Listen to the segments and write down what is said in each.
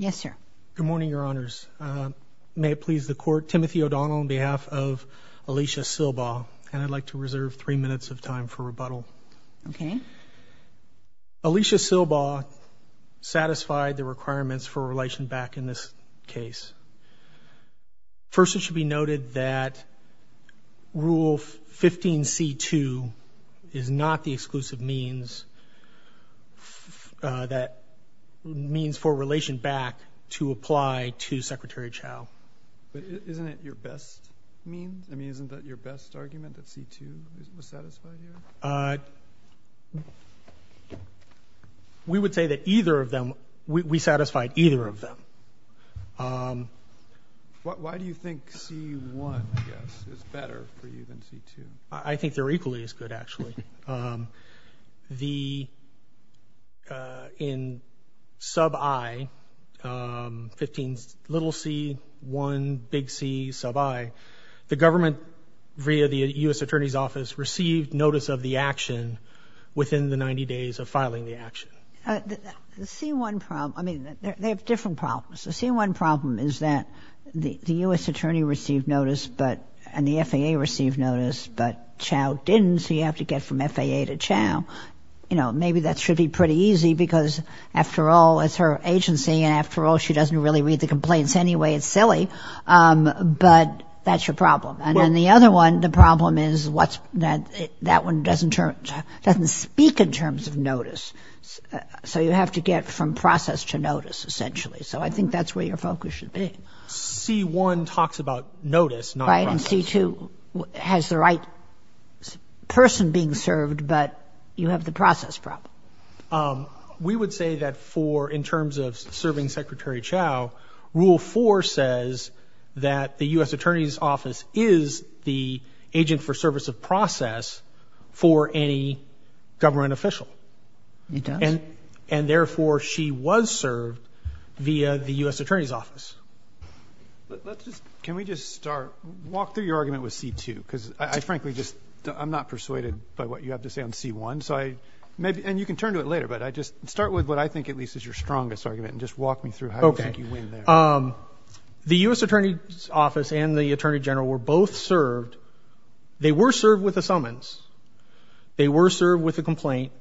Good morning, Your Honors. May it please the Court, Timothy O'Donnell on behalf of Alisha Silbaugh and I'd like to reserve three minutes of time for rebuttal. Okay. Alisha Silbaugh satisfied the requirements for a relation back in this case. First, it should be noted that Rule 15 C2 is not the exclusive means that means for relation back to apply to Secretary Chao. Isn't it your best means? I mean, isn't that your best argument that C2 was satisfied here? We would say that either of them, we satisfied either of them. Why do you think C1, I guess, is better for you than C2? I think they're equally as good actually. The in sub I, 15, little c, 1, big c, sub I, the government via the U.S. Attorney's Office received notice of the action within the 90 days of filing the action. The C1 problem, I mean, they have different problems. The C1 problem is that the U.S. Attorney received notice and the FAA received notice, but Chao didn't, so you have to get from FAA to Chao. You know, maybe that should be pretty easy because after all, it's her agency and after all, she doesn't really read the complaints anyway. It's silly, but that's your problem. And then the other one, the problem is that one doesn't speak in terms of notice. So you have to get from process to notice essentially. So I think that's where your focus should be. C1 talks about notice, not process. Right, and C2 has the right person being served, but you have the process problem. We would say that for in terms of serving Secretary Chao, Rule 4 says that the U.S. Attorney's Office is the agent for service of process for any government official. It does. And therefore, she was served via the U.S. Attorney's Office. Let's just, can we just start, walk through your argument with C2 because I frankly just, I'm not persuaded by what you have to say on C1, so I, and you can turn to it later, but I just, start with what I think at least is your strongest argument and just walk me through how you think you win there. Okay. The U.S. Attorney's Office and the Attorney General were both served. They were served with a summons. They were served with a complaint,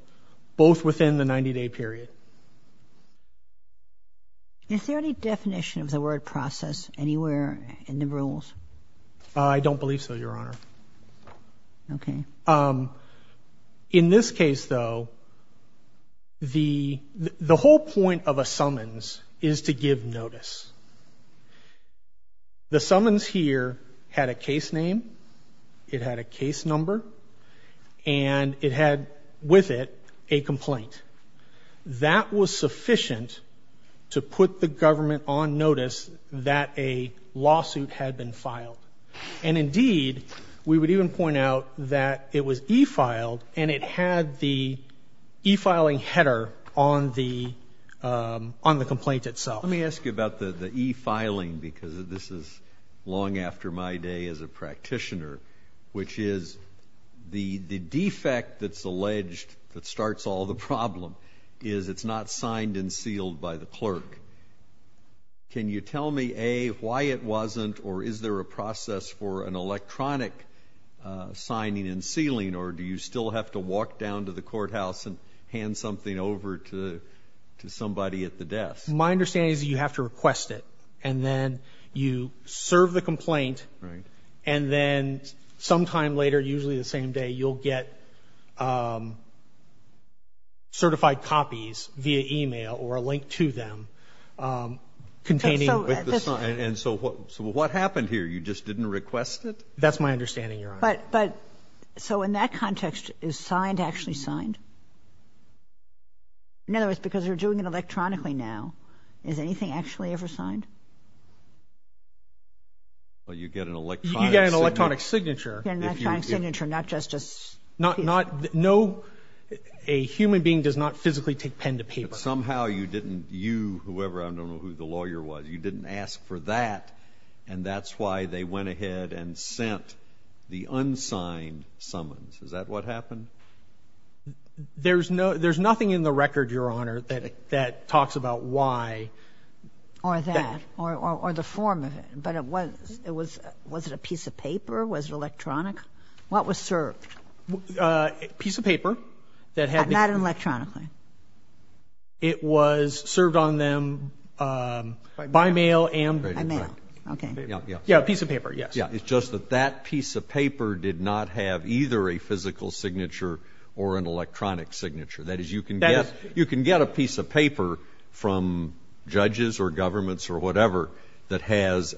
both within the 90-day period. Is there any definition of the word process anywhere in the rules? I don't believe so, Your Honor. Okay. In this case though, the whole point of a summons is to give notice. The summons here had a case name, it had a case number, and it had with it, a complaint. That was sufficient to put the government on notice that a lawsuit had been filed. And indeed, we would even point out that it was e-filed and it had the e-filing header on the complaint itself. Let me ask you about the e-filing because this is long after my day as a practitioner, which is the defect that's alleged that starts all the problem is it's not signed and sealed by the clerk. Can you tell me, A, why it wasn't, or is there a process for an electronic signing and sealing, or do you still have to walk down to the courthouse and hand something over to somebody at the desk? My understanding is you have to request it, and then you serve the complaint, and then sometime later, usually the same day, you'll get certified copies via email or a link to them containing the sign. And so what happened here? You just didn't request it? That's my understanding, Your Honor. But, so in that context, is signed actually signed? In other words, because you're doing it electronically now, is anything actually ever signed? Well, you get an electronic signature. You get an electronic signature, not just a piece of paper. A human being does not physically take pen to paper. But somehow you didn't, you, whoever, I don't know who the lawyer was, you didn't ask for that, and that's why they went ahead and sent the unsigned summons. Is that what happened? There's no, there's nothing in the record, Your Honor, that talks about why. Or that, or the form of it. But it was, was it a piece of paper? Was it electronic? What was served? A piece of paper that had been... Not electronically? It was served on them by mail and... By mail, okay. Yeah, a piece of paper, yes. Yeah, it's just that that piece of paper did not have either a physical signature or an electronic signature. That is, you can get, you can get a piece of paper from judges or governments or whatever that has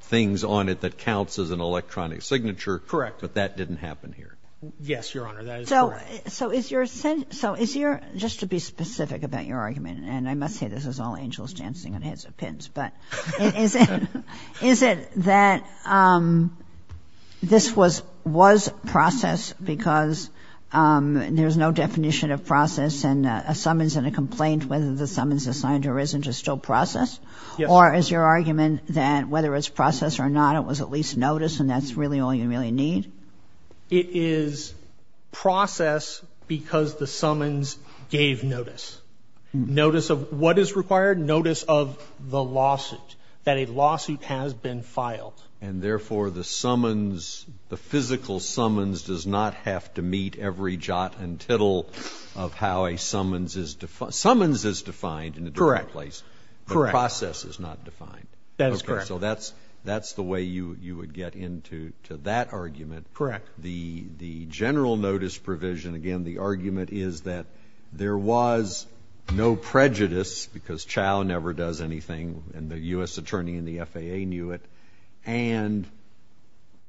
things on it that counts as an electronic signature. Correct. But that didn't happen here. Yes, Your Honor, that is correct. So, so is your, so is your, just to be specific about your argument, and I must say this is all angels dancing on heads of pins, but is it, is it that this was, was processed because there's no definition of process and a summons and a complaint whether the summons is signed or isn't is still processed? Yes. Or is your argument that whether it's processed or not, it was at least noticed and that's really all you really need? It is processed because the summons gave notice. Notice of what is required? Notice of the lawsuit, that a lawsuit has been filed. And therefore, the summons, the physical summons does not have to meet every jot and tittle of how a summons is, summons is defined in a direct place. Correct. The process is not defined. That is correct. So that's, that's the way you, you would get into to that argument. Correct. The, the general notice provision, again, the argument is that there was no prejudice because Chau never does anything and the U.S. attorney and the FAA knew it and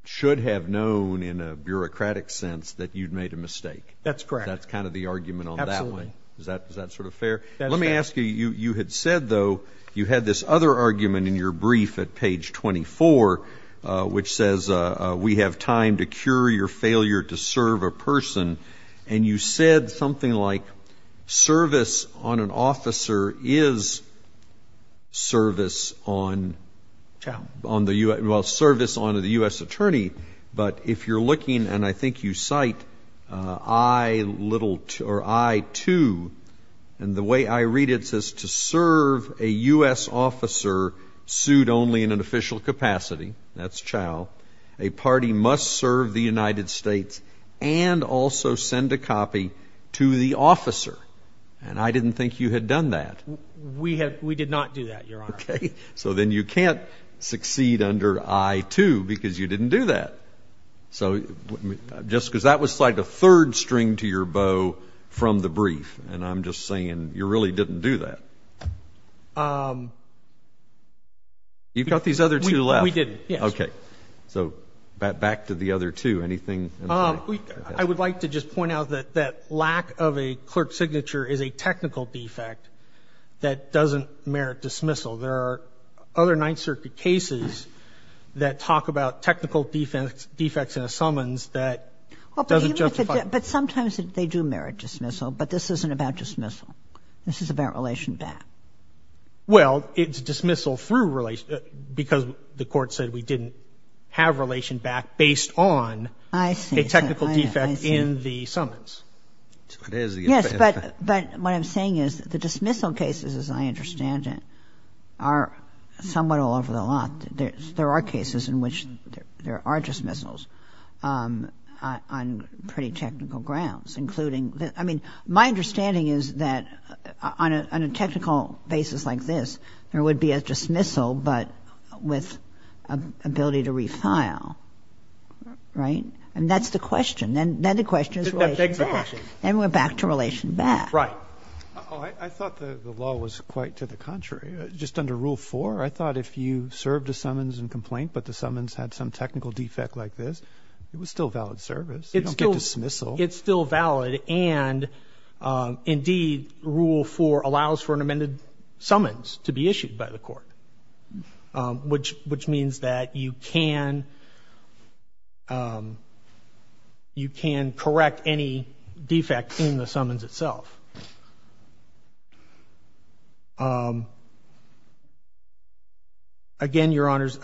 should have known in a bureaucratic sense that you'd made a mistake. That's correct. That's kind of the argument on that one. Is that, is that sort of fair? Let me ask you, you, you had said though, you had this other argument in your brief at page 24, which says we have time to cure your failure to serve a person. And you said something like service on an officer is service on Chau, on the U.S., well, service on the U.S. attorney. But if you're looking, and I think you cite I little or I too, and the way I read it, it says to serve a U.S. officer sued only in an official capacity, that's Chau, a party must serve the United States and also send a copy to the officer. And I didn't think you had done that. We had, we did not do that, Your Honor. Okay. So then you can't succeed under I too because you didn't do that. So, just because that was like the third string to your bow from the brief. And I'm just saying you really didn't do that. You've got these other two left. We didn't, yes. Okay. So, back to the other two, anything? I would like to just point out that that lack of a clerk signature is a technical defect that doesn't merit dismissal. There are other Ninth Circuit cases that talk about technical defects in a summons that doesn't justify. But sometimes they do talk about dismissal. This is about relation back. Well, it's dismissal through relation, because the court said we didn't have relation back based on a technical defect in the summons. Yes, but what I'm saying is the dismissal cases, as I understand it, are somewhat all over the lot. There are cases in which there are dismissals on pretty technical grounds, including, I mean, my understanding is that on a technical basis like this, there would be a dismissal, but with ability to refile, right? And that's the question. Then the question is relation back. Then we're back to relation back. Right. I thought the law was quite to the contrary. Just under Rule 4, I thought if you served a summons and complaint, but the summons had some technical defect like this, it was still valid service. You don't have to serve a summons. It's still valid. And indeed, Rule 4 allows for an amended summons to be issued by the court, which means that you can correct any defect in the summons itself. Again, Your Honors,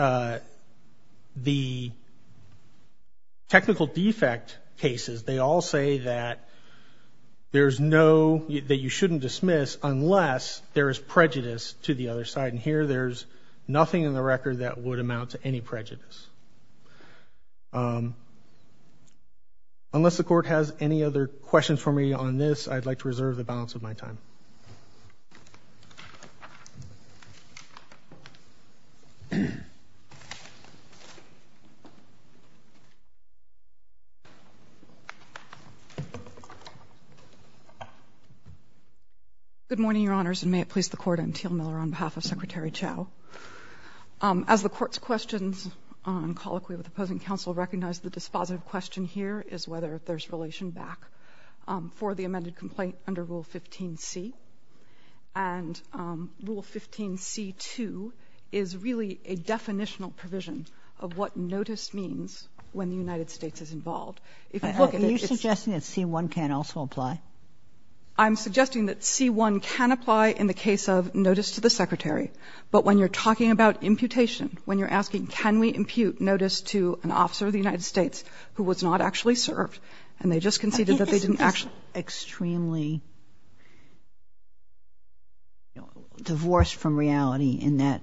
the technical defect cases, they all say that the technical defect cases, they all say that there's no, that you shouldn't dismiss unless there is prejudice to the other side. And here, there's nothing in the record that would amount to any prejudice. Unless the court has any other questions for me on this, I'd like to reserve the balance of my time. Good morning, Your Honors, and may it please the Court. I'm Teal Miller on behalf of Secretary Chau. As the Court's questions on colloquy with opposing counsel recognize the dispositive question here is whether there's relation back for the amended complaint under Rule 15c. And Rule 15c2 is really a definitional provision of what notice means when the United States is involved. Are you suggesting that C-1 can also apply? I'm suggesting that C-1 can apply in the case of notice to the Secretary. But when you're talking about imputation, when you're asking can we impute notice to an officer of the United States who was not actually served, and they just conceded that they didn't actually. It's extremely divorced from reality in that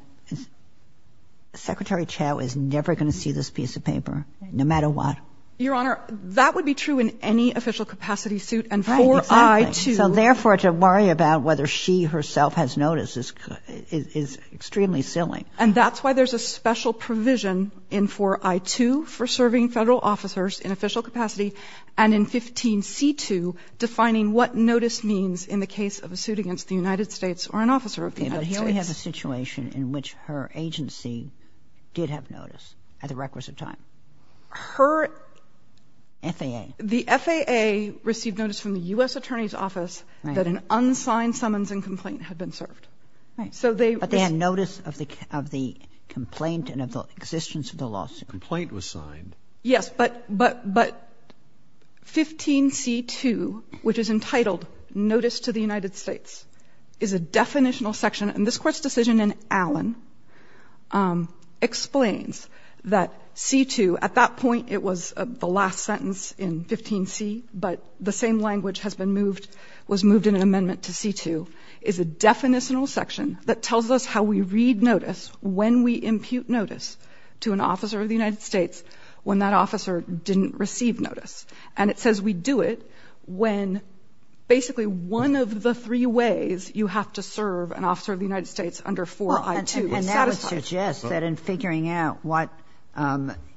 Secretary Chau is never going to see this piece of paper, no matter what. Your Honor, that would be true in any official capacity suit, and 4I-2. Right, exactly. So therefore, to worry about whether she herself has notice is extremely silly. And that's why there's a special provision in 4I-2 for serving Federal officers in official capacity, and in 15c2 defining what notice means in the case of a suit against the United States or an officer of the United States. But here we have a situation in which her agency did have notice at the requisite time. Her FAA received notice from the U.S. Attorney's Office that an unsigned summons and complaint had been served. But they had notice of the complaint and of the existence of the lawsuit. Complaint was signed. Yes, but 15c2, which is entitled Notice to the United States, is a definitional section and this Court's decision in Allen explains that c2, at that point it was the last sentence in 15c, but the same language has been moved, was moved in an amendment to c2, is a definitional section that tells us how we read notice when we impute notice to an officer of the United States when that officer didn't receive notice. And it says we do it when basically one of the three ways you have to serve an officer of the United States under 4i2 is satisfied. And that would suggest that in figuring out what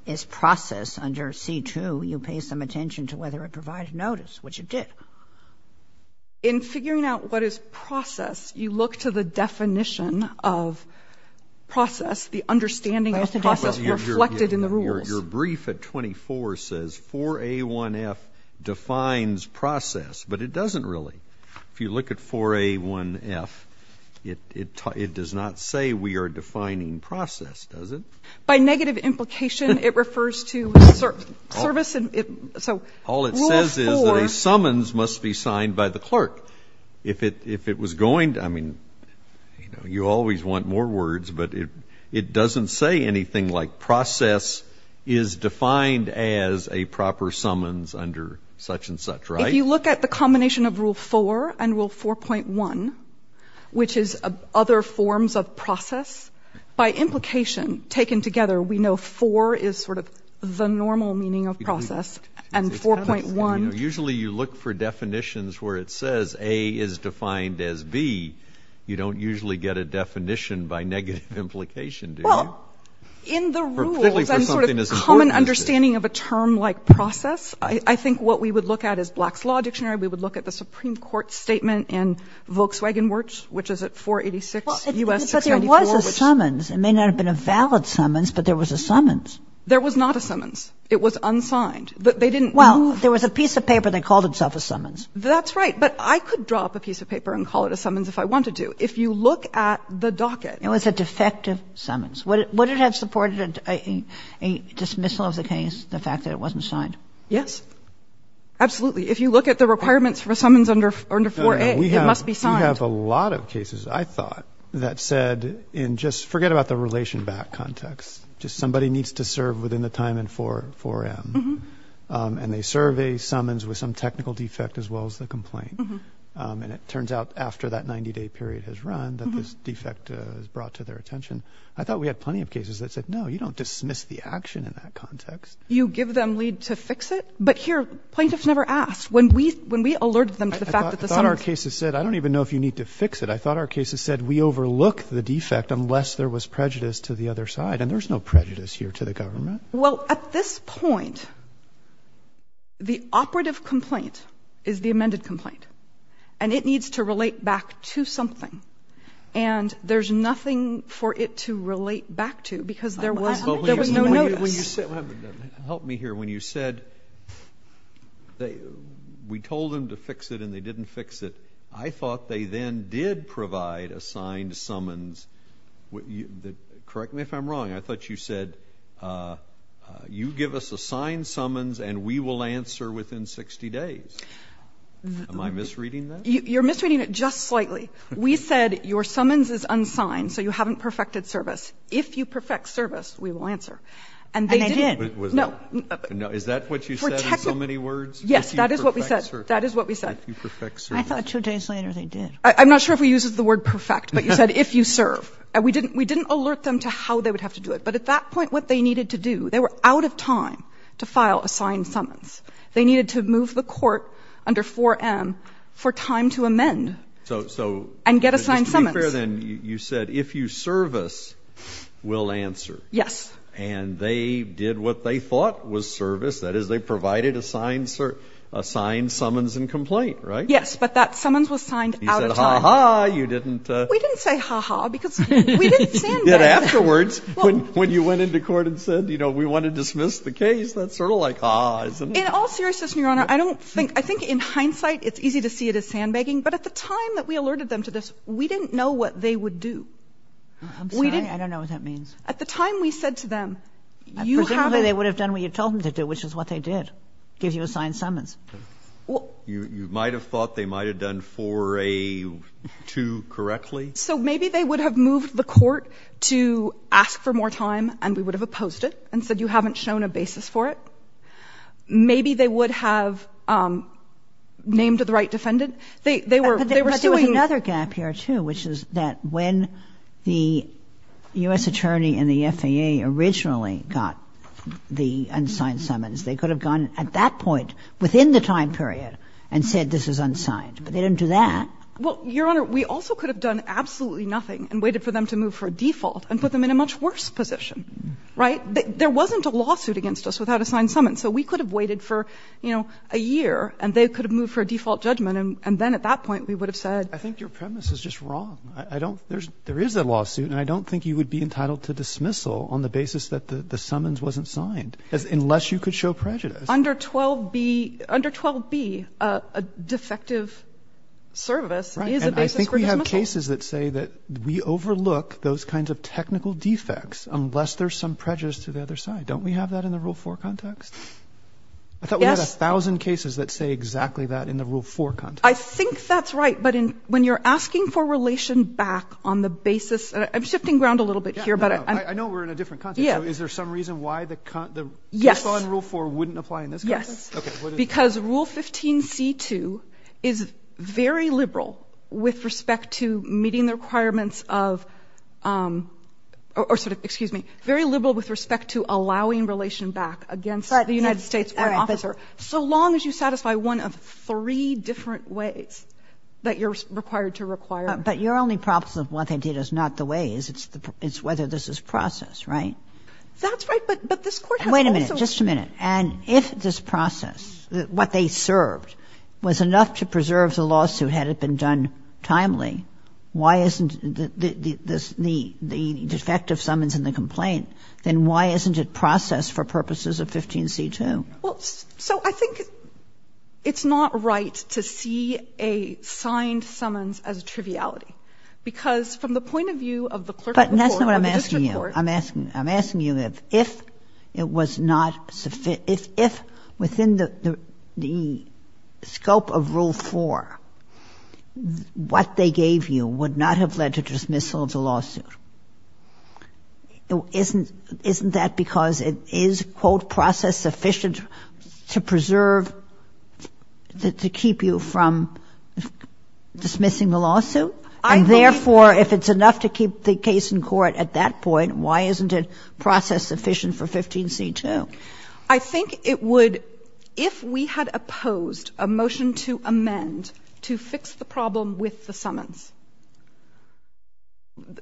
is process under c2, you pay some attention to whether it provided notice, which it did. In figuring out what is process, you look to the definition of process, the understanding of process reflected in the rules. Your brief at 24 says 4a1f defines process, but it doesn't really. If you look at 4a1f, it does not say we are defining process, does it? By negative implication, it refers to service and so rule 4. All it says is that a summons must be signed by the clerk. If it was going to, I mean, you always want more words, but it doesn't say anything like process is defined as a proper summons under such and such, right? If you look at the combination of rule 4 and rule 4.1, which is other forms of process, by implication taken together, we know 4 is sort of the normal meaning of process and 4.1. Usually you look for definitions where it says A is defined as B. You don't usually get a definition by negative implication, do you? In the rules and sort of common understanding of a term like process, I think what we would look at is Black's Law Dictionary, we would look at the Supreme Court statement in Volkswagen Works, which is at 486 U.S. 694. But there was a summons. It may not have been a valid summons, but there was a summons. There was not a summons. It was unsigned. But they didn't move. Well, there was a piece of paper that called itself a summons. That's right. But I could drop a piece of paper and call it a summons if I wanted to. If you look at the docket. It was a defective summons. Would it have supported a dismissal of the case, the fact that it wasn't signed? Yes. Absolutely. If you look at the requirements for summons under 4A, it must be signed. We have a lot of cases, I thought, that said in just forget about the relation back context, just somebody needs to serve within the time in 4M. And they serve a summons with some technical defect as well as the complaint. And it turns out after that 90-day period has run that this defect has brought to their attention. I thought we had plenty of cases that said, no, you don't dismiss the action in that context. You give them lead to fix it. But here, plaintiffs never asked. When we alerted them to the fact that the summons. I thought our cases said, I don't even know if you need to fix it. I thought our cases said we overlook the defect unless there was prejudice to the other side. And there's no prejudice here to the government. Well, at this point, the operative complaint is the amended complaint. And it needs to relate back to something. And there's nothing for it to relate back to because there was no notice. Help me here. When you said we told them to fix it and they didn't fix it. I thought they then did provide a signed summons. Correct me if I'm wrong. I thought you said you give us a signed summons and we will answer within 60 days. Am I misreading that? You're misreading it just slightly. We said your summons is unsigned. So you haven't perfected service. If you perfect service, we will answer. And they did. Is that what you said in so many words? Yes. That is what we said. That is what we said. If you perfect service. I thought two days later they did. I'm not sure if we used the word perfect, but you said if you serve. We didn't alert them to how they would have to do it. But at that point, what they needed to do, they were out of time to file a signed summons. They needed to move the court under 4M for time to amend and get a signed summons. So just to be fair then, you said if you service, we'll answer. Yes. And they did what they thought was service. That is, they provided a signed summons and complaint, right? Yes. But that summons was signed out of time. You said ha ha. You didn't. We didn't say ha ha because we didn't sandbag that. Afterwards, when you went into court and said, you know, we want to dismiss the case, that's sort of like ha ha, isn't it? In all seriousness, Your Honor, I think in hindsight, it's easy to see it as sandbagging. But at the time that we alerted them to this, we didn't know what they would do. I'm sorry. I don't know what that means. At the time we said to them, you haven't. Presumably, they would have done what you told them to do, which is what they did, give you a signed summons. You might have thought they might have done 4A-2 correctly. So maybe they would have moved the court to ask for more time and we would have opposed it and said you haven't shown a basis for it. Maybe they would have named the right defendant. They were suing. There's another gap here, too, which is that when the U.S. Attorney and the FAA originally got the unsigned summons, they could have gone at that point within the time period and said this is unsigned. But they didn't do that. Well, Your Honor, we also could have done absolutely nothing and waited for them to move for a default and put them in a much worse position, right? There wasn't a lawsuit against us without a signed summons. So we could have waited for, you know, a year and they could have moved for a default judgment and then at that point we would have said. I think your premise is just wrong. I don't – there is a lawsuit and I don't think you would be entitled to dismissal on the basis that the summons wasn't signed unless you could show prejudice. Under 12B, under 12B, a defective service is a basis for dismissal. Right. And I think we have cases that say that we overlook those kinds of technical defects unless there's some prejudice to the other side. Don't we have that in the Rule 4 context? Yes. I thought we had a thousand cases that say exactly that in the Rule 4 context. I think that's right. But when you're asking for relation back on the basis – I'm shifting ground a little bit here. Yeah, no. I know we're in a different context. Yeah. So is there some reason why the rule 4 wouldn't apply in this context? Yes. Because Rule 15C2 is very liberal with respect to meeting the requirements of – or sort of, excuse me, very liberal with respect to allowing relation back against the United States court officer, so long as you satisfy one of three different ways that you're required to require. But your only problem with what they did is not the ways. It's whether this is processed, right? That's right. But this Court has also – Wait a minute. Just a minute. And if this process, what they served, was enough to preserve the lawsuit had it been done timely, why isn't the defective summons and the complaint, then why isn't it Well, so I think it's not right to see a signed summons as a triviality. Because from the point of view of the clerical court or the district court But that's not what I'm asking you. I'm asking you if it was not – if within the scope of Rule 4, what they gave you would Isn't that because it is, quote, process-sufficient to preserve – to keep you from dismissing the lawsuit? And therefore, if it's enough to keep the case in court at that point, why isn't it process-sufficient for 15c2? I think it would – if we had opposed a motion to amend to fix the problem with the summons,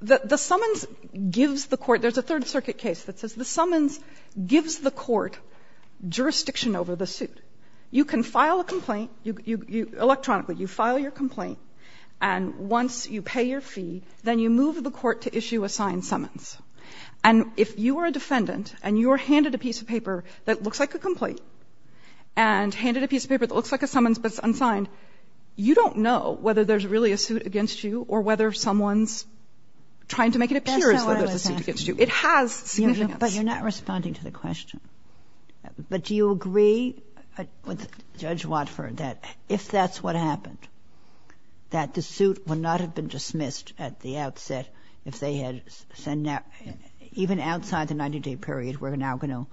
the summons gives the court – there's a Third Circuit case that says the summons gives the court jurisdiction over the suit. You can file a complaint – electronically, you file your complaint, and once you pay your fee, then you move the court to issue a signed summons. And if you are a defendant and you are handed a piece of paper that looks like a complaint and handed a piece of paper that looks like a summons but it's unsigned, you don't know whether there's really a suit against you or whether someone's trying to make it appear as though there's a suit against you. It has significance. But you're not responding to the question. But do you agree with Judge Watford that if that's what happened, that the suit would not have been dismissed at the outset if they had – even outside the 90-day period we're now going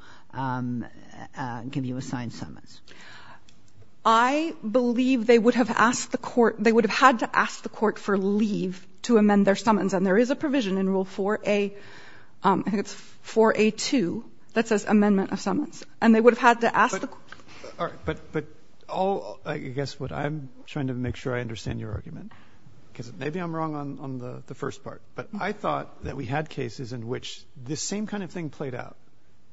to give you a signed summons? I believe they would have asked the court – they would have had to ask the court for leave to amend their summons. And there is a provision in Rule 4A – I think it's 4A2 that says amendment of summons, and they would have had to ask the court. But all – I guess what I'm trying to make sure I understand your argument, because maybe I'm wrong on the first part. But I thought that we had cases in which this same kind of thing played out.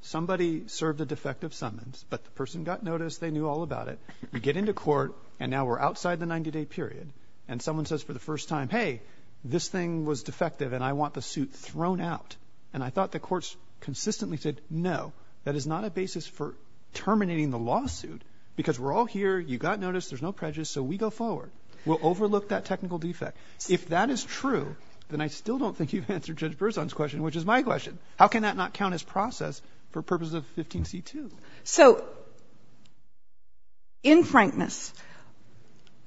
Somebody served a defective summons, but the person got notice. They knew all about it. We get into court, and now we're outside the 90-day period. And someone says for the first time, hey, this thing was defective, and I want the suit thrown out. And I thought the courts consistently said, no, that is not a basis for terminating the lawsuit because we're all here. You got notice. There's no prejudice. So we go forward. We'll overlook that technical defect. If that is true, then I still don't think you've answered Judge Berzon's question, which is my question. How can that not count as process for purposes of 15c2? So in frankness,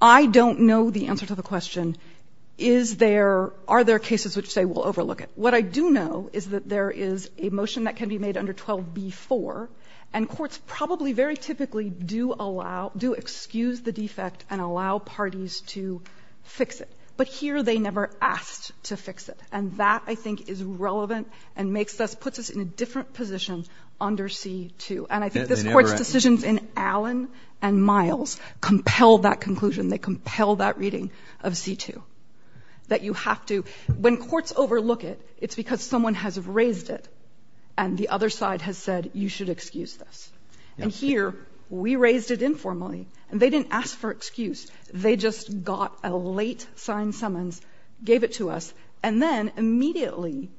I don't know the answer to the question, is there – are there cases which say we'll overlook it? What I do know is that there is a motion that can be made under 12b4, and courts probably very typically do allow – do excuse the defect and allow parties to fix it. But here they never asked to fix it. And that, I think, is relevant and makes us – puts us in a different position under c2. And I think this court's decisions in Allen and Miles compel that conclusion. They compel that reading of c2, that you have to – when courts overlook it, it's because someone has raised it and the other side has said you should excuse this. And here we raised it informally, and they didn't ask for excuse. They just got a late signed summons, gave it to us, and then immediately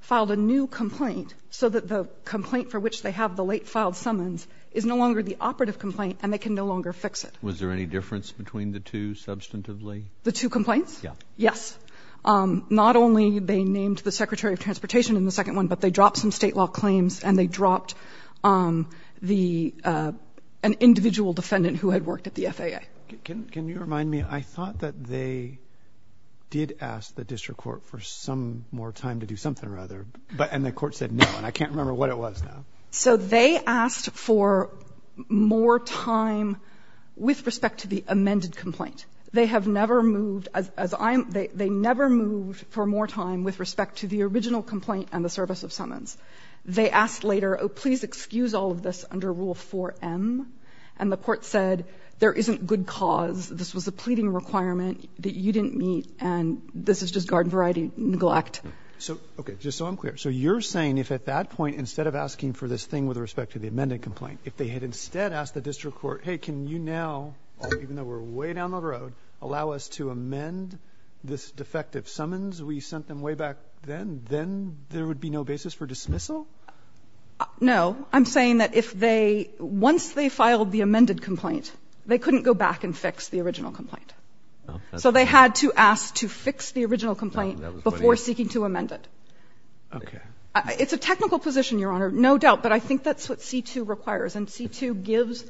filed a new complaint so that the complaint for which they have the late filed summons is no longer the operative complaint and they can no longer fix it. Was there any difference between the two substantively? The two complaints? Yeah. Yes. Not only they named the Secretary of Transportation in the second one, but they dropped some state law claims and they dropped the – an individual defendant who had worked at the FAA. Can you remind me? I thought that they did ask the district court for some more time to do something or other, but – and the court said no, and I can't remember what it was now. So they asked for more time with respect to the amended complaint. They have never moved – as I'm – they never moved for more time with respect to the original complaint and the service of summons. They asked later, oh, please excuse all of this under Rule 4m, and the court said there isn't good cause, this was a pleading requirement that you didn't meet, and this is just garden variety neglect. So – okay, just so I'm clear, so you're saying if at that point instead of asking for this thing with respect to the amended complaint, if they had instead asked the district court, hey, can you now, even though we're way down the road, allow us to amend this defective summons we sent them way back then, then there would be no basis for dismissal? No. I'm saying that if they – once they filed the amended complaint, they couldn't go back and fix the original complaint. So they had to ask to fix the original complaint before seeking to amend it. Okay. It's a technical position, Your Honor, no doubt, but I think that's what C-2 requires. And C-2 gives,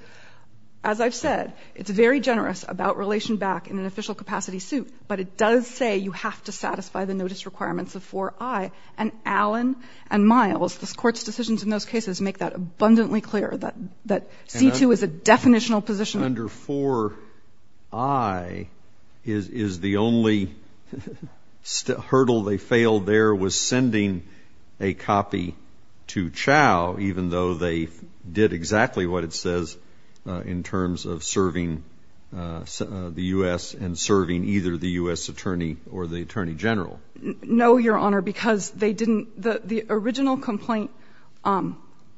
as I've said, it's very generous about relation back in an official capacity suit, but it does say you have to satisfy the notice requirements of 4i. And Allen and Miles, the court's decisions in those cases make that abundantly clear that C-2 is a definitional position. And under 4i is the only hurdle they failed there was sending a copy to Chau, even though they did exactly what it says in terms of serving the U.S. and serving either the U.S. attorney or the attorney general. No, Your Honor, because they didn't – the original complaint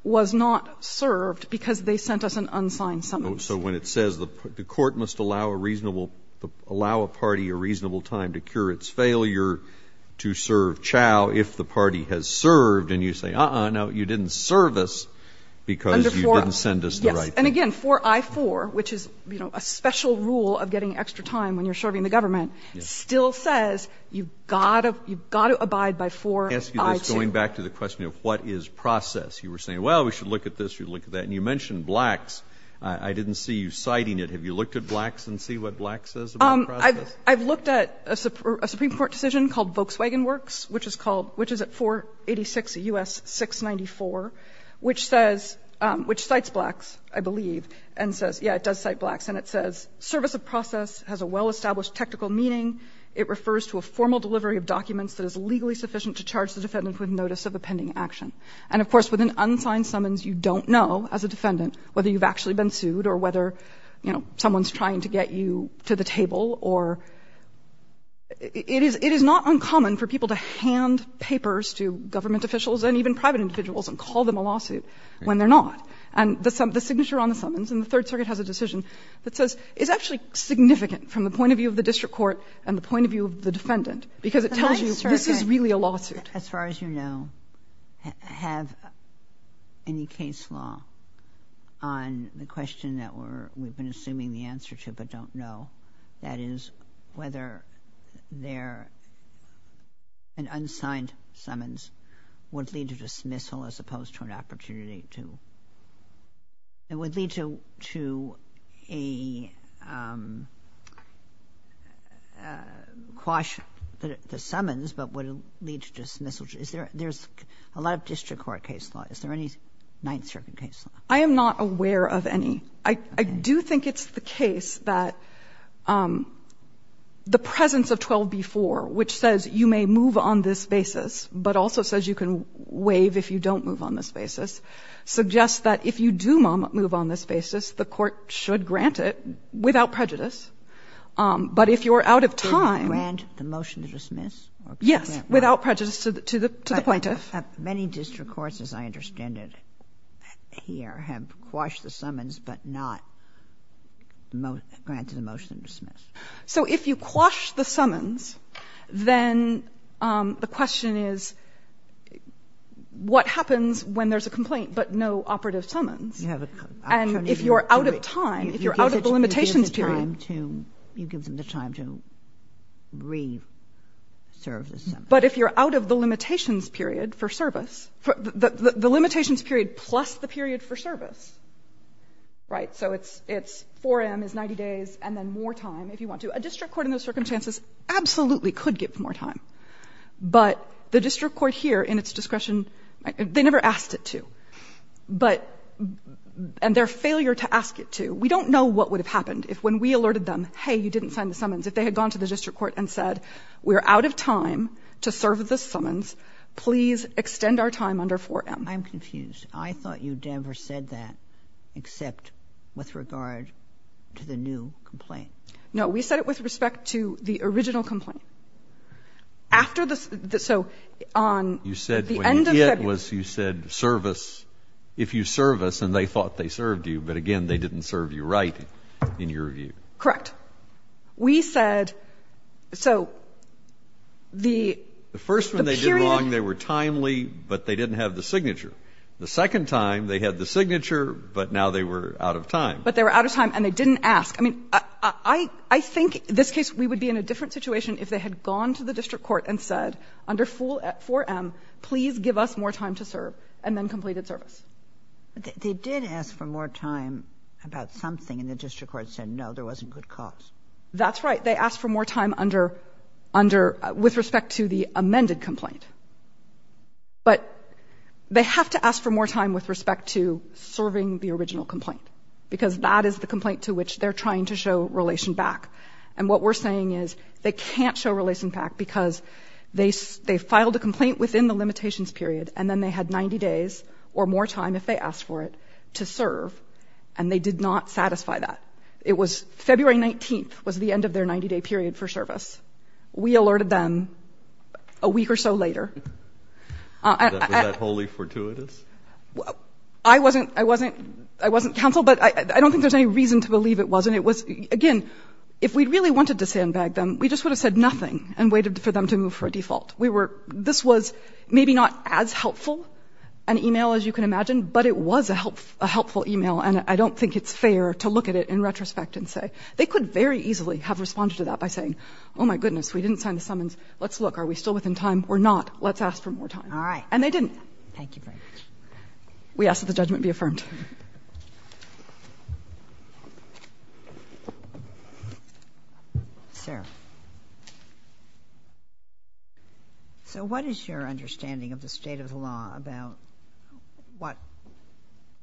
was not served because they sent us an unsigned summons. So when it says the court must allow a reasonable – allow a party a reasonable time to cure its failure to serve Chau if the party has served, and you say, uh-uh, no, you didn't serve us because you didn't send us the right thing. Yes. And again, 4i.4, which is, you know, a special rule of getting extra time when you're You've got to abide by 4i.2. I ask you this going back to the question of what is process. You were saying, well, we should look at this, we should look at that. And you mentioned Blacks. I didn't see you citing it. Have you looked at Blacks and see what Blacks says about process? I've looked at a Supreme Court decision called Volkswagen Works, which is called – which is at 486 U.S. 694, which says – which cites Blacks, I believe, and says – yeah, it does cite Blacks. And it says, service of process has a well-established technical meaning. It refers to a formal delivery of documents that is legally sufficient to charge the defendant with notice of a pending action. And of course, with an unsigned summons, you don't know, as a defendant, whether you've actually been sued or whether, you know, someone's trying to get you to the table or – it is not uncommon for people to hand papers to government officials and even private individuals and call them a lawsuit when they're not. And the signature on the summons in the Third Circuit has a decision that says – is actually significant from the point of view of the district court and the point of view of the defendant, because it tells you this is really a lawsuit. But the Third Circuit, as far as you know, have any case law on the question that we're – we've been assuming the answer to but don't know, that is, whether there – an unsigned summons would lead to dismissal as opposed to an opportunity to – it would lead to a quash the summons, but would it lead to dismissal? Is there – there's a lot of district court case law. Is there any Ninth Circuit case law? I am not aware of any. I do think it's the case that the presence of 12b-4, which says you may move on this basis, but also says you can waive if you don't move on this basis, suggests that if you do move on this basis, the court should grant it without prejudice. But if you're out of time – Do you grant the motion to dismiss? Yes, without prejudice to the plaintiff. But many district courts, as I understand it here, have quashed the summons but not granted the motion to dismiss. So if you quash the summons, then the question is what happens when there's a complaint but no operative summons, and if you're out of time, if you're out of the limitations period – You give them the time to re-serve the summons. But if you're out of the limitations period for service – the limitations period plus the period for service, right? So it's 4 a.m. is 90 days, and then more time if you want to. A district court in those circumstances absolutely could give more time. But the district court here in its discretion, they never asked it to. But – and their failure to ask it to, we don't know what would have happened if when we alerted them, hey, you didn't sign the summons, if they had gone to the district court and said, we're out of time to serve the summons, please extend our time under 4 a.m. I'm confused. I thought you never said that except with regard to the new complaint. No, we said it with respect to the original complaint. After the – so on – You said when you did was you said service – if you service, and they thought they served you, but again, they didn't serve you right in your view. Correct. We said – so the period – The first one they did wrong, they were timely, but they didn't have the signature. The second time, they had the signature, but now they were out of time. But they were out of time, and they didn't ask. I mean, I think in this case we would be in a different situation if they had gone to the district court and said under 4 a.m., please give us more time to serve, and then completed service. But they did ask for more time about something, and the district court said, no, there wasn't good cause. That's right. They asked for more time under – under – with respect to the amended complaint. But they have to ask for more time with respect to serving the original complaint, because that is the complaint to which they're trying to show relation back. And what we're saying is they can't show relation back because they – they filed a complaint within the limitations period, and then they had 90 days or more time if they asked for it to serve, and they did not satisfy that. It was – February 19th was the end of their 90-day period for service. We alerted them a week or so later. Was that wholly fortuitous? I wasn't – I wasn't – I wasn't counsel, but I don't think there's any reason to believe it wasn't. Again, if we really wanted to sandbag them, we just would have said nothing and waited for them to move for a default. This was maybe not as helpful an email as you can imagine, but it was a helpful email, and I don't think it's fair to look at it in retrospect and say – they could very easily have responded to that by saying, oh, my goodness, we didn't sign the summons. Let's look. Are we still within time? We're not. Let's ask for more time. All right. And they didn't. Thank you very much. We ask that the judgment be affirmed. Thank you. Sir. So what is your understanding of the state of the law about what –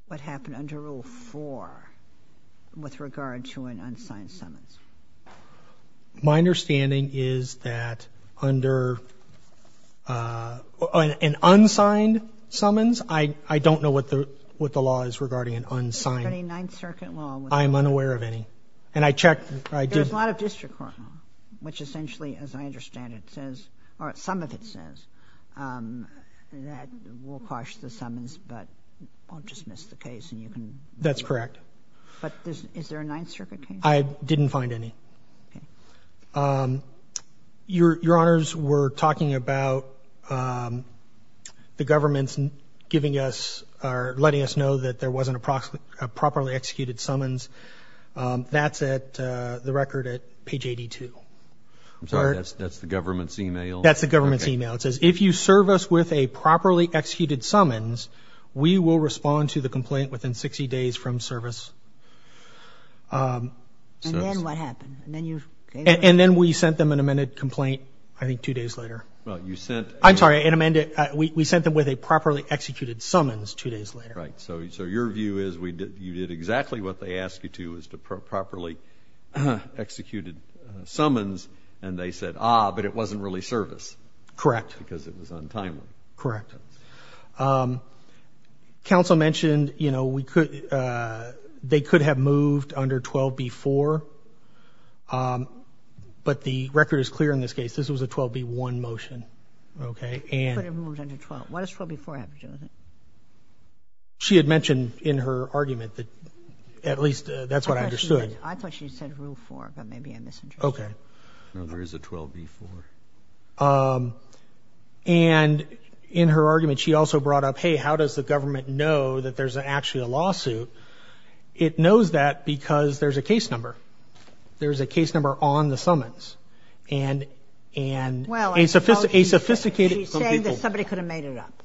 what happened under Rule 4 with regard to an unsigned summons? My understanding is that under an unsigned summons, I don't know what the – what the law is regarding an unsigned. Is there any Ninth Circuit law? I am unaware of any. And I checked – I did – There's a lot of district court law, which essentially, as I understand it, says – or some of it says that we'll quash the summons, but I'll dismiss the case, and you can – That's correct. But is there a Ninth Circuit case? I didn't find any. Your Honors, we're talking about the government giving us – or letting us know that there was a properly executed summons. That's at – the record at page 82. I'm sorry. That's the government's email? That's the government's email. It says, if you serve us with a properly executed summons, we will respond to the complaint within 60 days from service. And then what happened? And then you – And then we sent them an amended complaint, I think, two days later. Well, you sent – I'm sorry. An amended – we sent them with a properly executed summons two days later. So your view is you did exactly what they asked you to, is to properly execute summons, and they said, ah, but it wasn't really service. Correct. Because it was untimely. Correct. Counsel mentioned, you know, we could – they could have moved under 12b-4, but the record is clear in this case. This was a 12b-1 motion, okay? They could have moved under 12. Why does 12b-4 have to do with it? She had mentioned in her argument that at least that's what I understood. I thought she said rule 4, but maybe I misinterpreted it. Okay. No, there is a 12b-4. And in her argument, she also brought up, hey, how does the government know that there's actually a lawsuit? It knows that because there's a case number. There's a case number on the summons. And – and – Well – A sophisticated – She's saying that somebody could have made it up.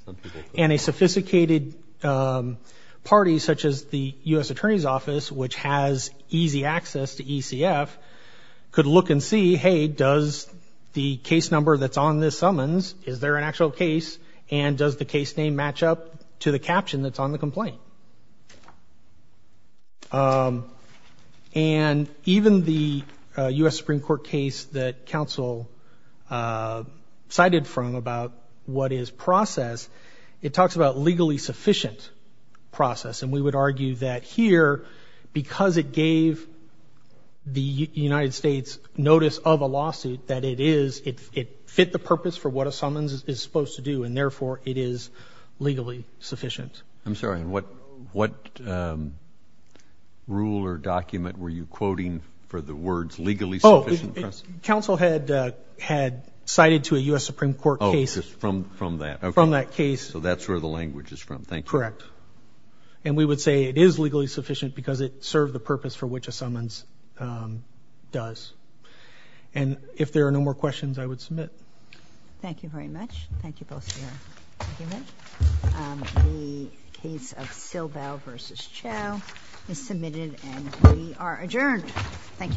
And a sophisticated party, such as the U.S. Attorney's Office, which has easy access to ECF, could look and see, hey, does the case number that's on this summons, is there an actual case, and does the case name match up to the caption that's on the complaint? And even the U.S. Supreme Court case that counsel cited from about what is process, it talks about legally sufficient process. And we would argue that here, because it gave the United States notice of a lawsuit, that it is – it fit the purpose for what a summons is supposed to do, and therefore it is legally sufficient. I'm sorry. And what – what rule or document were you quoting for the words legally sufficient? Oh, counsel had – had cited to a U.S. Supreme Court case. Oh, just from – from that. Okay. From that case. So that's where the language is from. Thank you. Correct. And we would say it is legally sufficient because it served the purpose for which a summons does. And if there are no more questions, I would submit. Thank you very much. Thank you, both of you. Thank you very much. The case of Silbel v. Chau is submitted, and we are adjourned. Thank you.